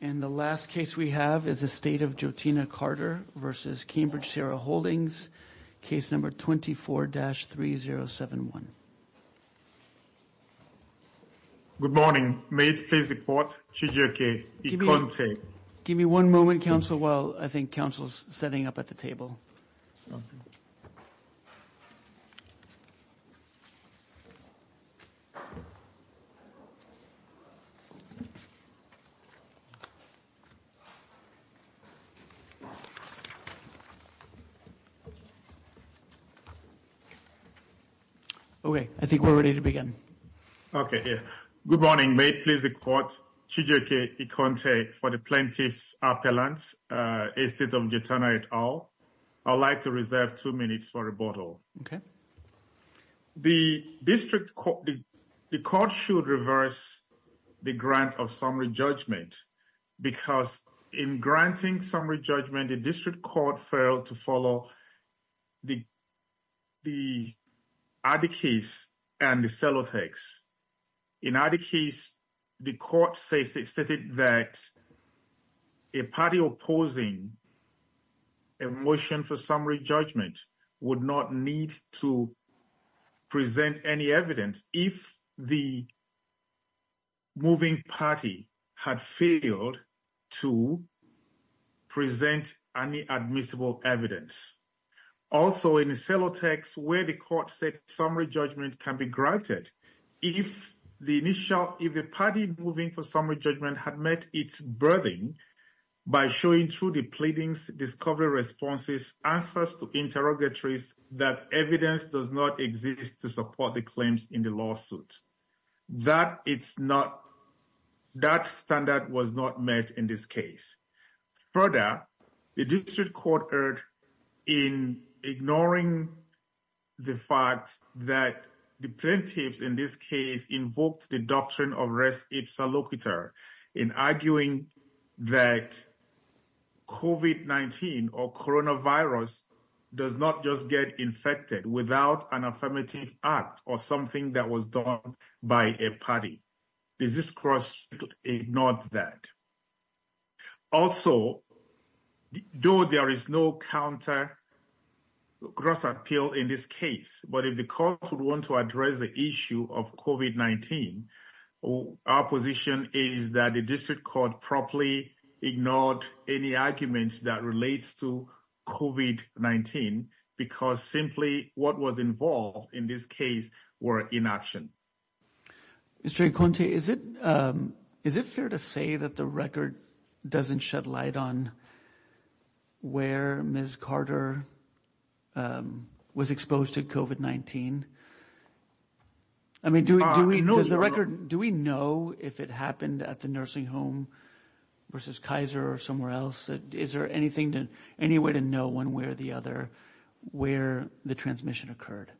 And the last case we have is the state of Jotena Carter v. Cambridge Sierra Holdings, case number 24-3071. Good morning. May it please the court, CJK, Ikonte. Give me one moment, counsel, while I think counsel's setting up at the table. Okay. I think we're ready to begin. Okay. Good morning. May it please the court, CJK, Ikonte, for the plaintiff's appellant, estate of Jotena et al. I'd like to reserve two minutes for rebuttal. Okay. The district court, the court should reverse the grant of summary judgment because in granting summary judgment, the district court failed to follow the other case and the sellotext. In either case, the court says that a party opposing a motion for summary judgment would not need to present any evidence if the moving party had failed to present any admissible evidence. Also, in the sellotext, where the court said summary judgment can be granted if the initial, if the party moving for summary judgment had met its burden by showing through the pleadings, discovery responses, answers to interrogatories, that evidence does not exist to support the claims in the lawsuit. That it's not, that standard was not met in this case. Further, the district court erred in ignoring the fact that the plaintiffs in this case invoked the doctrine of res ipsa locator in arguing that COVID-19 or coronavirus does not just get infected without an affirmative act or something that was done by a party. The district court ignored that. Also, though there is no counter gross appeal in this case, but if the court would want to address the issue of COVID-19, our position is that the district court properly ignored any arguments that relates to COVID-19 because simply what was involved in this case were inaction. Mr. Is it, is it fair to say that the record doesn't shed light on where Ms. Carter was exposed to COVID-19. I mean, do we know the record. Do we know if it happened at the nursing home versus Kaiser or somewhere else. Is there anything to any way to know one way or the other, where the transmission occurred.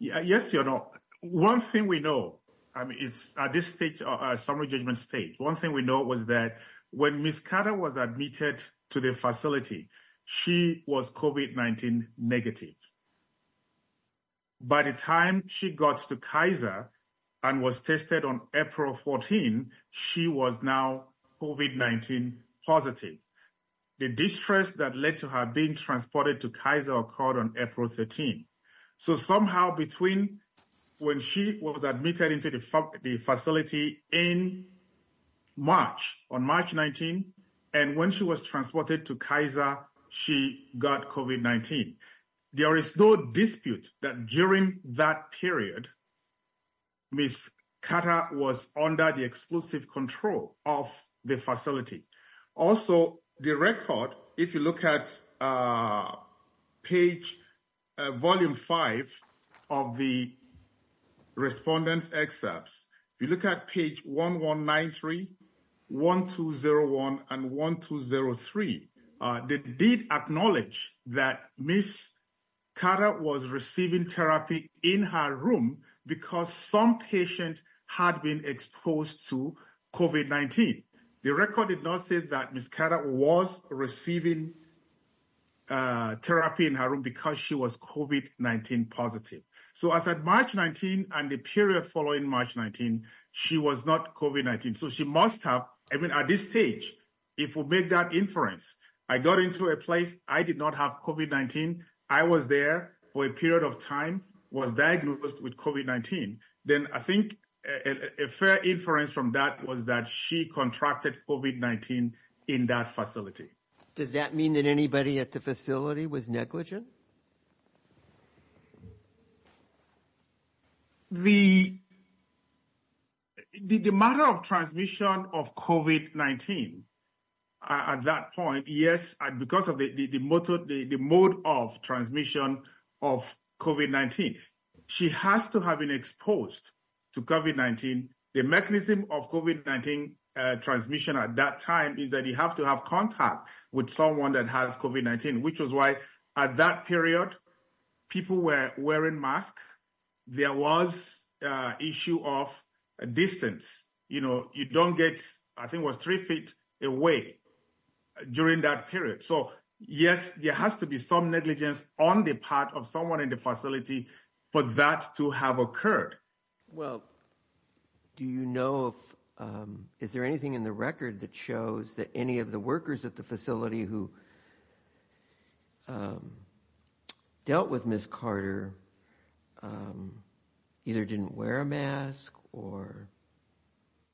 Yeah, yes, you know, one thing we know it's at this stage summary judgment state. One thing we know was that when Miss Carter was admitted to the facility. She was COVID-19 negative. By the time she got to Kaiser, and was tested on April 14, she was now COVID-19 positive. The distress that led to her being transported to Kaiser occurred on April 13. So somehow between when she was admitted into the facility in March, on March 19, and when she was transported to Kaiser, she got COVID-19. There is no dispute that during that period, Miss Carter was under the exclusive control of the facility. Also, the record. If you look at page, volume five of the respondents excerpts. If you look at page 1193, 1201 and 1203, they did acknowledge that Miss Carter was receiving therapy in her room, because some patient had been exposed to COVID-19. The record did not say that Miss Carter was receiving therapy in her room because she was COVID-19 positive. So as at March 19, and the period following March 19, she was not COVID-19. So she must have, I mean, at this stage, if we make that inference, I got into a place, I did not have COVID-19, I was there for a period of time, was diagnosed with COVID-19, then I think a fair inference from that was that she contracted COVID-19 in that facility. Does that mean that anybody at the facility was negligent? The matter of transmission of COVID-19, at that point, yes, because of the mode of transmission of COVID-19, she has to have been exposed to COVID-19. The mechanism of COVID-19 transmission at that time is that you have to have contact with someone that has COVID-19, which was why at that period, people were wearing masks, there was issue of distance, you know, you don't get, I think it was three feet away during that period. So, yes, there has to be some negligence on the part of someone in the facility for that to have occurred. Well, do you know if, is there anything in the record that shows that any of the workers at the facility who dealt with Ms. Carter either didn't wear a mask or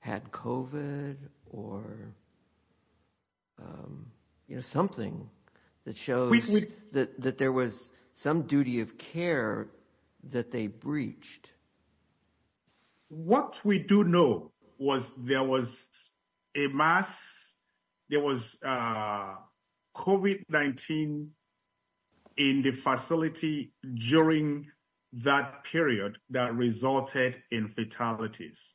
had COVID or, you know, something that shows that there was some duty of care that they breached? What we do know was there was a mask, there was COVID-19 in the facility during that period that resulted in fatalities.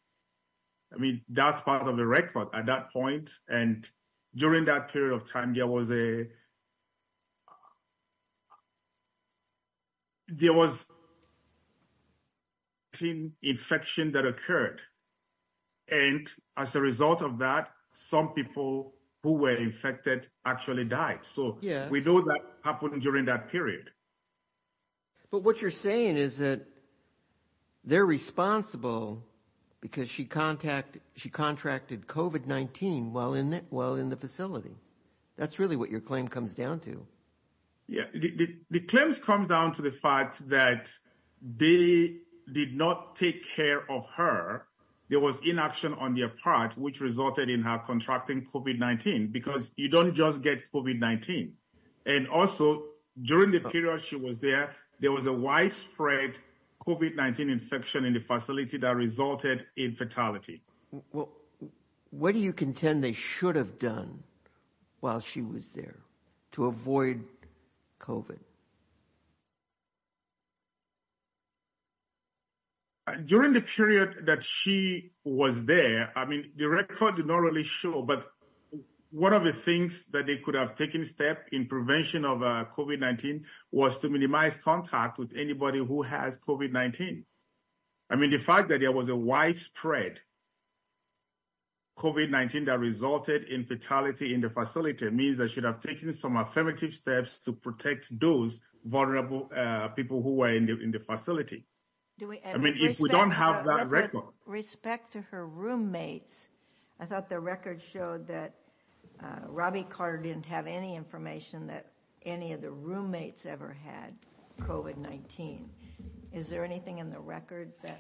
I mean, that's part of the record at that point. And during that period of time, there was an infection that occurred. And as a result of that, some people who were infected actually died. So, we know that happened during that period. But what you're saying is that they're responsible because she contracted COVID-19 while in the facility. That's really what your claim comes down to. The claims come down to the fact that they did not take care of her. There was inaction on their part, which resulted in her contracting COVID-19, because you don't just get COVID-19. And also, during the period she was there, there was a widespread COVID-19 infection in the facility that resulted in fatality. What do you contend they should have done while she was there to avoid COVID? During the period that she was there, I mean, the record did not really show, but one of the things that they could have taken a step in prevention of COVID-19 was to minimize contact with anybody who has COVID-19. I mean, the fact that there was a widespread COVID-19 that resulted in fatality in the facility means they should have taken some affirmative steps to protect those vulnerable people who were in the facility. I mean, if we don't have that record. With respect to her roommates, I thought the record showed that Robbie Carter didn't have any information that any of the roommates ever had COVID-19. Is there anything in the record that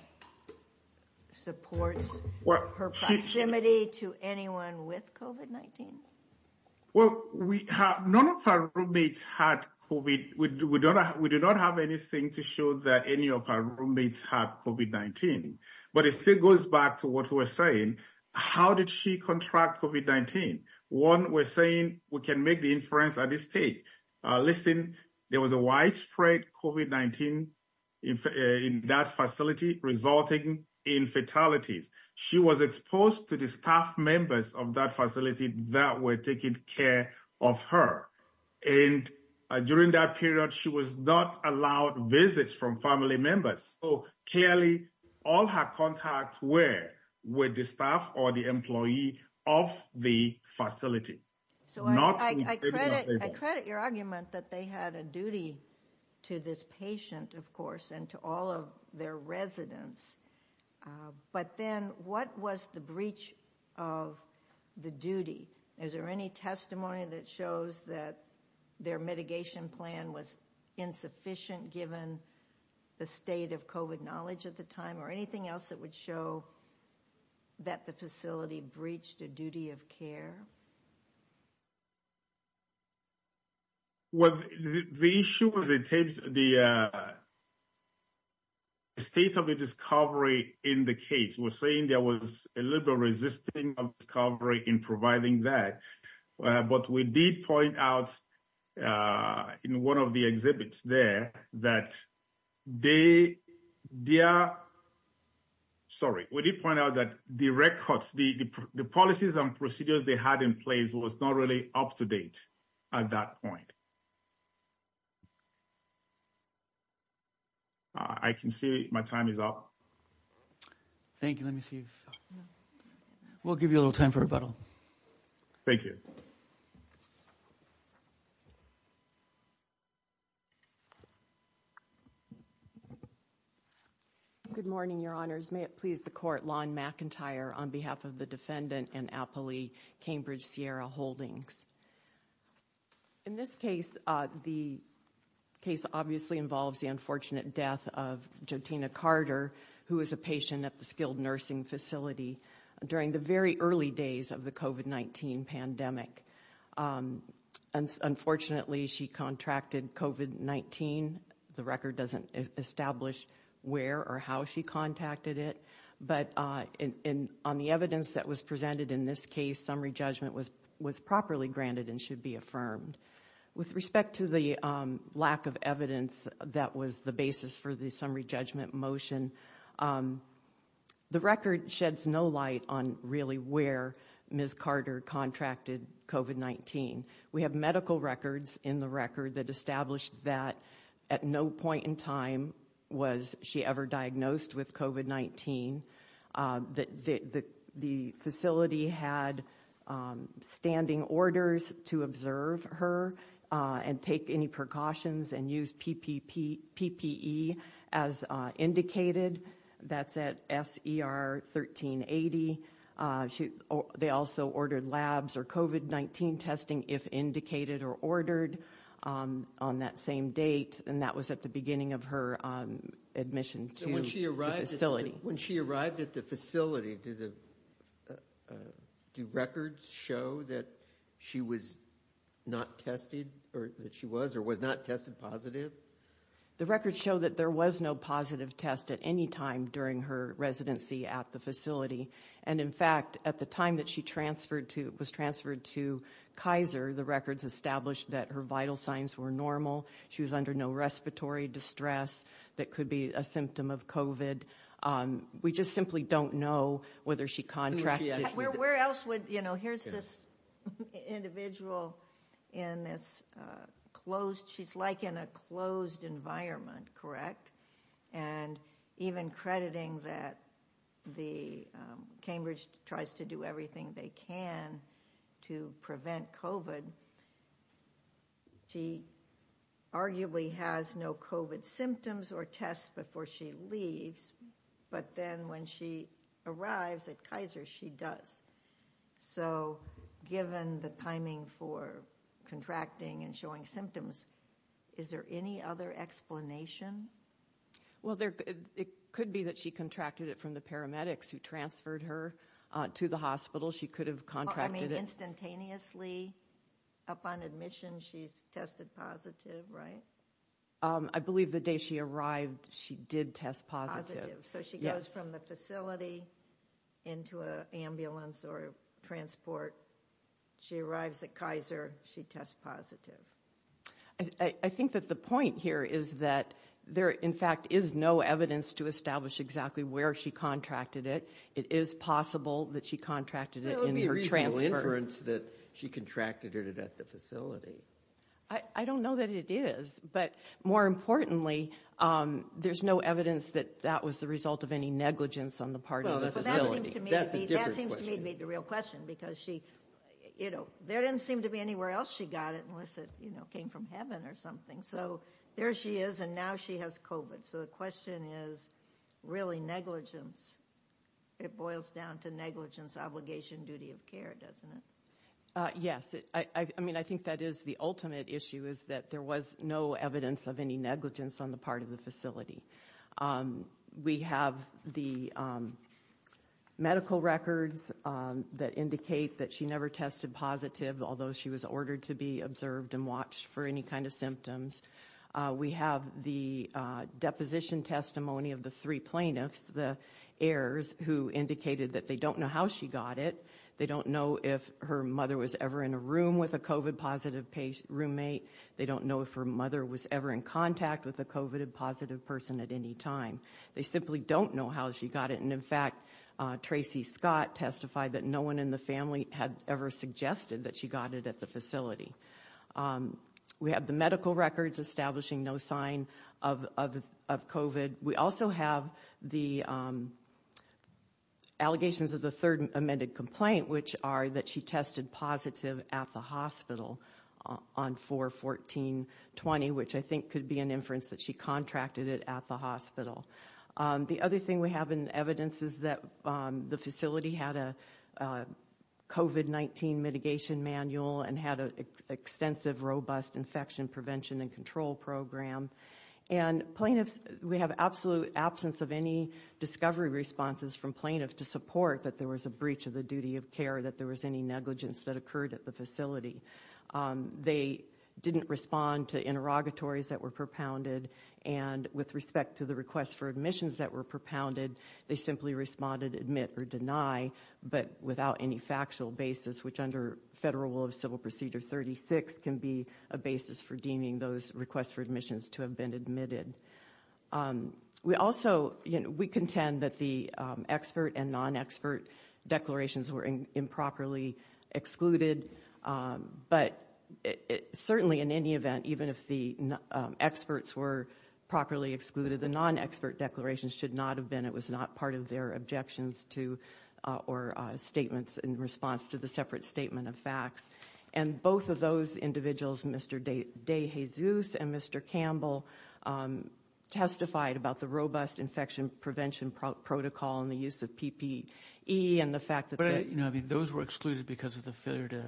supports her proximity to anyone with COVID-19? Well, none of her roommates had COVID. We do not have anything to show that any of her roommates had COVID-19. But it still goes back to what we were saying. How did she contract COVID-19? One, we're saying we can make the inference at this stage. Listen, there was a widespread COVID-19 in that facility resulting in fatalities. She was exposed to the staff members of that facility that were taking care of her. And during that period, she was not allowed visits from family members. So clearly, all her contacts were with the staff or the employee of the facility. I credit your argument that they had a duty to this patient, of course, and to all of their residents. But then what was the breach of the duty? Is there any testimony that shows that their mitigation plan was insufficient given the state of COVID knowledge at the time? Or anything else that would show that the facility breached a duty of care? Well, the issue was the state of the discovery in the case. We're saying there was a little bit of resistance of discovery in providing that. But we did point out in one of the exhibits there that they, sorry, we did point out that the records, the policies and procedures they had in place was not really up to date at that point. I can see my time is up. Thank you. Let me see if, we'll give you a little time for rebuttal. Thank you. Good morning, Your Honors. May it please the court, Lon McIntyre on behalf of the defendant and appellee, Cambridge Sierra Holdings. In this case, the case obviously involves the unfortunate death of Jotina Carter, who is a patient at the Skilled Nursing Facility during the very early days of the COVID-19 pandemic. Unfortunately, she contracted COVID-19. The record doesn't establish where or how she contacted it. But on the evidence that was presented in this case, summary judgment was properly granted and should be affirmed. With respect to the lack of evidence that was the basis for the summary judgment motion, the record sheds no light on really where Ms. Carter contracted COVID-19. We have medical records in the record that established that at no point in time was she ever diagnosed with COVID-19. The facility had standing orders to observe her and take any precautions and use PPE as indicated. That's at SER 1380. They also ordered labs or COVID-19 testing if indicated or ordered on that same date. And that was at the beginning of her admission to the facility. When she arrived at the facility, do records show that she was not tested or that she was or was not tested positive? The records show that there was no positive test at any time during her residency at the facility. And in fact, at the time that she was transferred to Kaiser, the records established that her vital signs were normal. She was under no respiratory distress that could be a symptom of COVID. We just simply don't know whether she contracted. Where else would, you know, here's this individual in this closed, she's like in a closed environment, correct? And even crediting that the Cambridge tries to do everything they can to prevent COVID. She arguably has no COVID symptoms or tests before she leaves. But then when she arrives at Kaiser, she does. So given the timing for contracting and showing symptoms, is there any other explanation? Well, there could be that she contracted it from the paramedics who transferred her to the hospital. She could have contracted it. Instantaneously upon admission, she's tested positive, right? I believe the day she arrived, she did test positive. She arrives from the facility into an ambulance or transport. She arrives at Kaiser. She tests positive. I think that the point here is that there, in fact, is no evidence to establish exactly where she contracted it. It is possible that she contracted it in her transfer. It would be a reasonable inference that she contracted it at the facility. I don't know that it is. But more importantly, there's no evidence that that was the result of any negligence on the part of the facility. That seems to me to be the real question. There didn't seem to be anywhere else she got it unless it came from heaven or something. So there she is, and now she has COVID. So the question is really negligence. It boils down to negligence, obligation, duty of care, doesn't it? Yes. I mean, I think that is the ultimate issue is that there was no evidence of any negligence on the part of the facility. We have the medical records that indicate that she never tested positive, although she was ordered to be observed and watched for any kind of symptoms. We have the deposition testimony of the three plaintiffs, the heirs, who indicated that they don't know how she got it. They don't know if her mother was ever in a room with a COVID positive roommate. They don't know if her mother was ever in contact with a COVID positive person at any time. They simply don't know how she got it. And in fact, Tracy Scott testified that no one in the family had ever suggested that she got it at the facility. We have the medical records establishing no sign of COVID. We also have the allegations of the third amended complaint, which are that she tested positive at the hospital on 4-14-20, which I think could be an inference that she contracted it at the hospital. The other thing we have in evidence is that the facility had a COVID-19 mitigation manual and had an extensive, robust infection prevention and control program. And plaintiffs, we have absolute absence of any discovery responses from plaintiffs to support that there was a breach of the duty of care, that there was any negligence that occurred at the facility. They didn't respond to interrogatories that were propounded. And with respect to the requests for admissions that were propounded, they simply responded admit or deny, but without any factual basis, which under Federal Rule of Civil Procedure 36 can be a basis for deeming those requests for admissions to have been admitted. We also contend that the expert and non-expert declarations were improperly excluded, but certainly in any event, even if the experts were properly excluded, the non-expert declarations should not have been. It was not part of their objections to or statements in response to the separate statement of facts. And both of those individuals, Mr. DeJesus and Mr. Campbell, testified about the robust infection prevention protocol and the use of PPE and the fact that... But, you know, I mean, those were excluded because of the failure to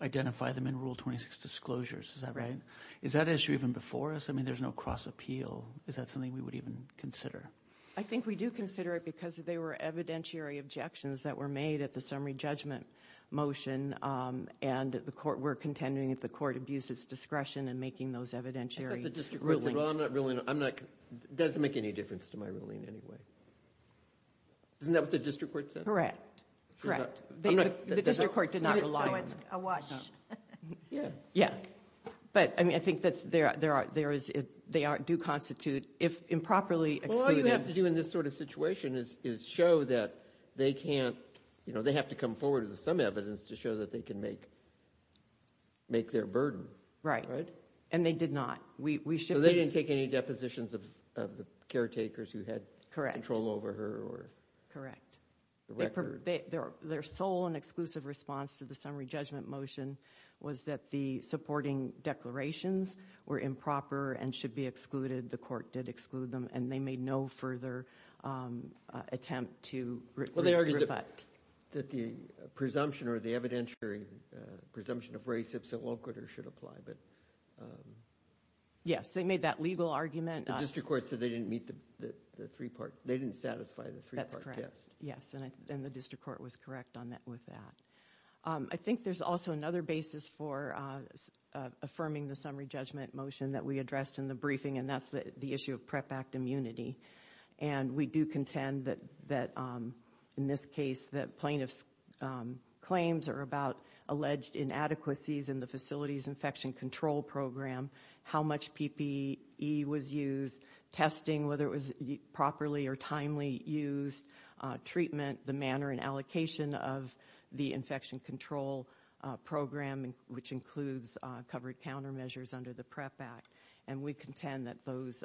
identify them in Rule 26 disclosures. Is that right? Is that issue even before us? I mean, there's no cross appeal. Is that something we would even consider? I think we do consider it because they were evidentiary objections that were made at the summary judgment motion, and we're contending that the court abused its discretion in making those evidentiary rulings. It doesn't make any difference to my ruling in any way. Isn't that what the district court said? Correct. Correct. The district court did not rely on... So it's a wash. Yeah. But, I mean, I think they do constitute, if improperly excluded... They have to come forward with some evidence to show that they can make their burden. Right. And they did not. So they didn't take any depositions of the caretakers who had control over her? Correct. Their sole and exclusive response to the summary judgment motion was that the supporting declarations were improper and should be excluded. The court did exclude them, and they made no further attempt to... Well, they argued that the presumption or the evidentiary presumption of race if so awkward or should apply, but... Yes. They made that legal argument. The district court said they didn't meet the three-part... They didn't satisfy the three-part test. That's correct. Yes. And the district court was correct with that. I think there's also another basis for affirming the summary judgment motion that we addressed in the briefing, and that's the issue of PrEP Act immunity. And we do contend that, in this case, that plaintiff's claims are about alleged inadequacies in the facility's infection control program, how much PPE was used, testing, whether it was properly or timely used, treatment, the manner and allocation of the infection control program, which includes covered countermeasures under the PrEP Act. And we contend that those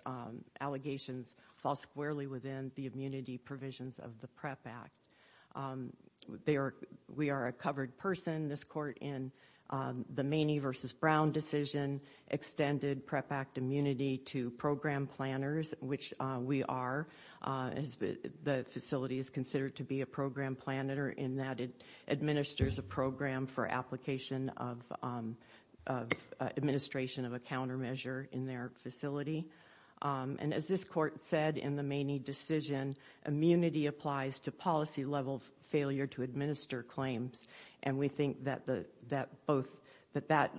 allegations fall squarely within the immunity provisions of the PrEP Act. We are a covered person. This court, in the Maney v. Brown decision, extended PrEP Act immunity to program planners, which we are. The facility is considered to be a program planner in that it administers a program for application of administration of a countermeasure in their facility. And as this court said in the Maney decision, immunity applies to policy-level failure to administer claims. And we think that that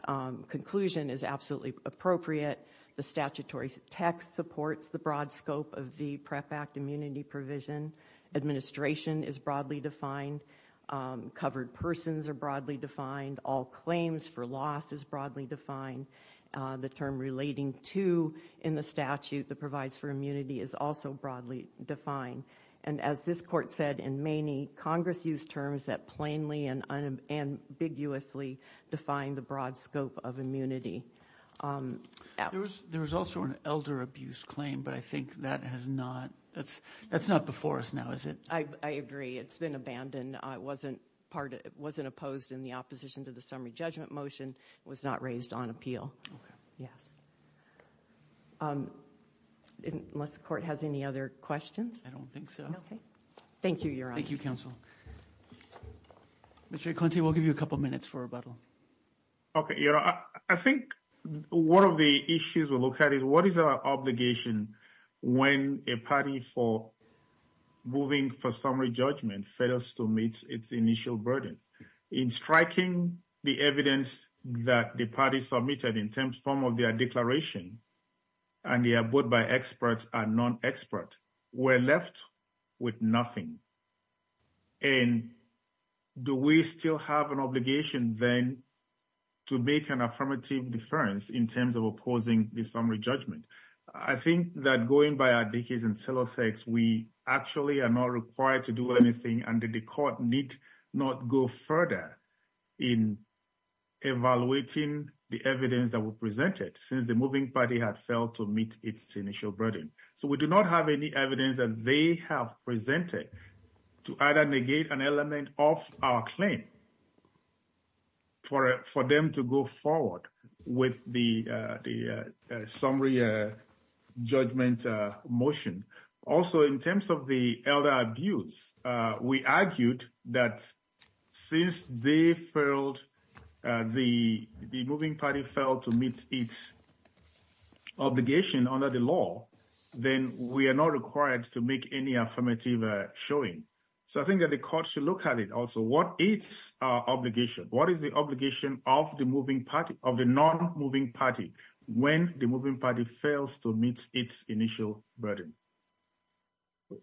conclusion is absolutely appropriate. The statutory text supports the broad scope of the PrEP Act immunity provision. Administration is broadly defined. Covered persons are broadly defined. All claims for loss is broadly defined. The term relating to in the statute that provides for immunity is also broadly defined. And as this court said in Maney, Congress used terms that plainly and unambiguously define the broad scope of immunity. There was also an elder abuse claim, but I think that has not, that's not before us now, is it? I agree. It's been abandoned. It wasn't opposed in the opposition to the summary judgment motion. It was not raised on appeal. Okay. Yes. Unless the court has any other questions? I don't think so. Okay. Thank you, Your Honor. Thank you, counsel. Mr. Ikonte, we'll give you a couple minutes for rebuttal. Okay, Your Honor. I think one of the issues we'll look at is what is our obligation when a party for moving for summary judgment fails to meet its initial burden? In striking the evidence that the party submitted in terms of their declaration, and they are both by experts and non-experts, we're left with nothing. And do we still have an obligation then to make an affirmative difference in terms of opposing the summary judgment? I think that going by our decades in Silothex, we actually are not required to do anything, and the court need not go further in evaluating the evidence that was presented since the moving party had failed to meet its initial burden. So we do not have any evidence that they have presented to either negate an element of our claim for them to go forward with the summary judgment motion. Also, in terms of the elder abuse, we argued that since the moving party failed to meet its obligation under the law, then we are not required to make any affirmative showing. So I think that the court should look at it also. What is our obligation? What is the obligation of the non-moving party when the moving party fails to meet its initial burden?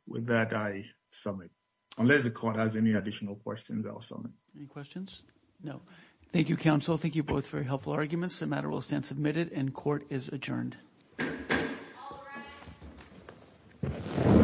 With that, I submit. If the court has any additional questions, I'll submit. Any questions? No. Thank you, counsel. Thank you both for your helpful arguments. The matter will stand submitted and court is adjourned.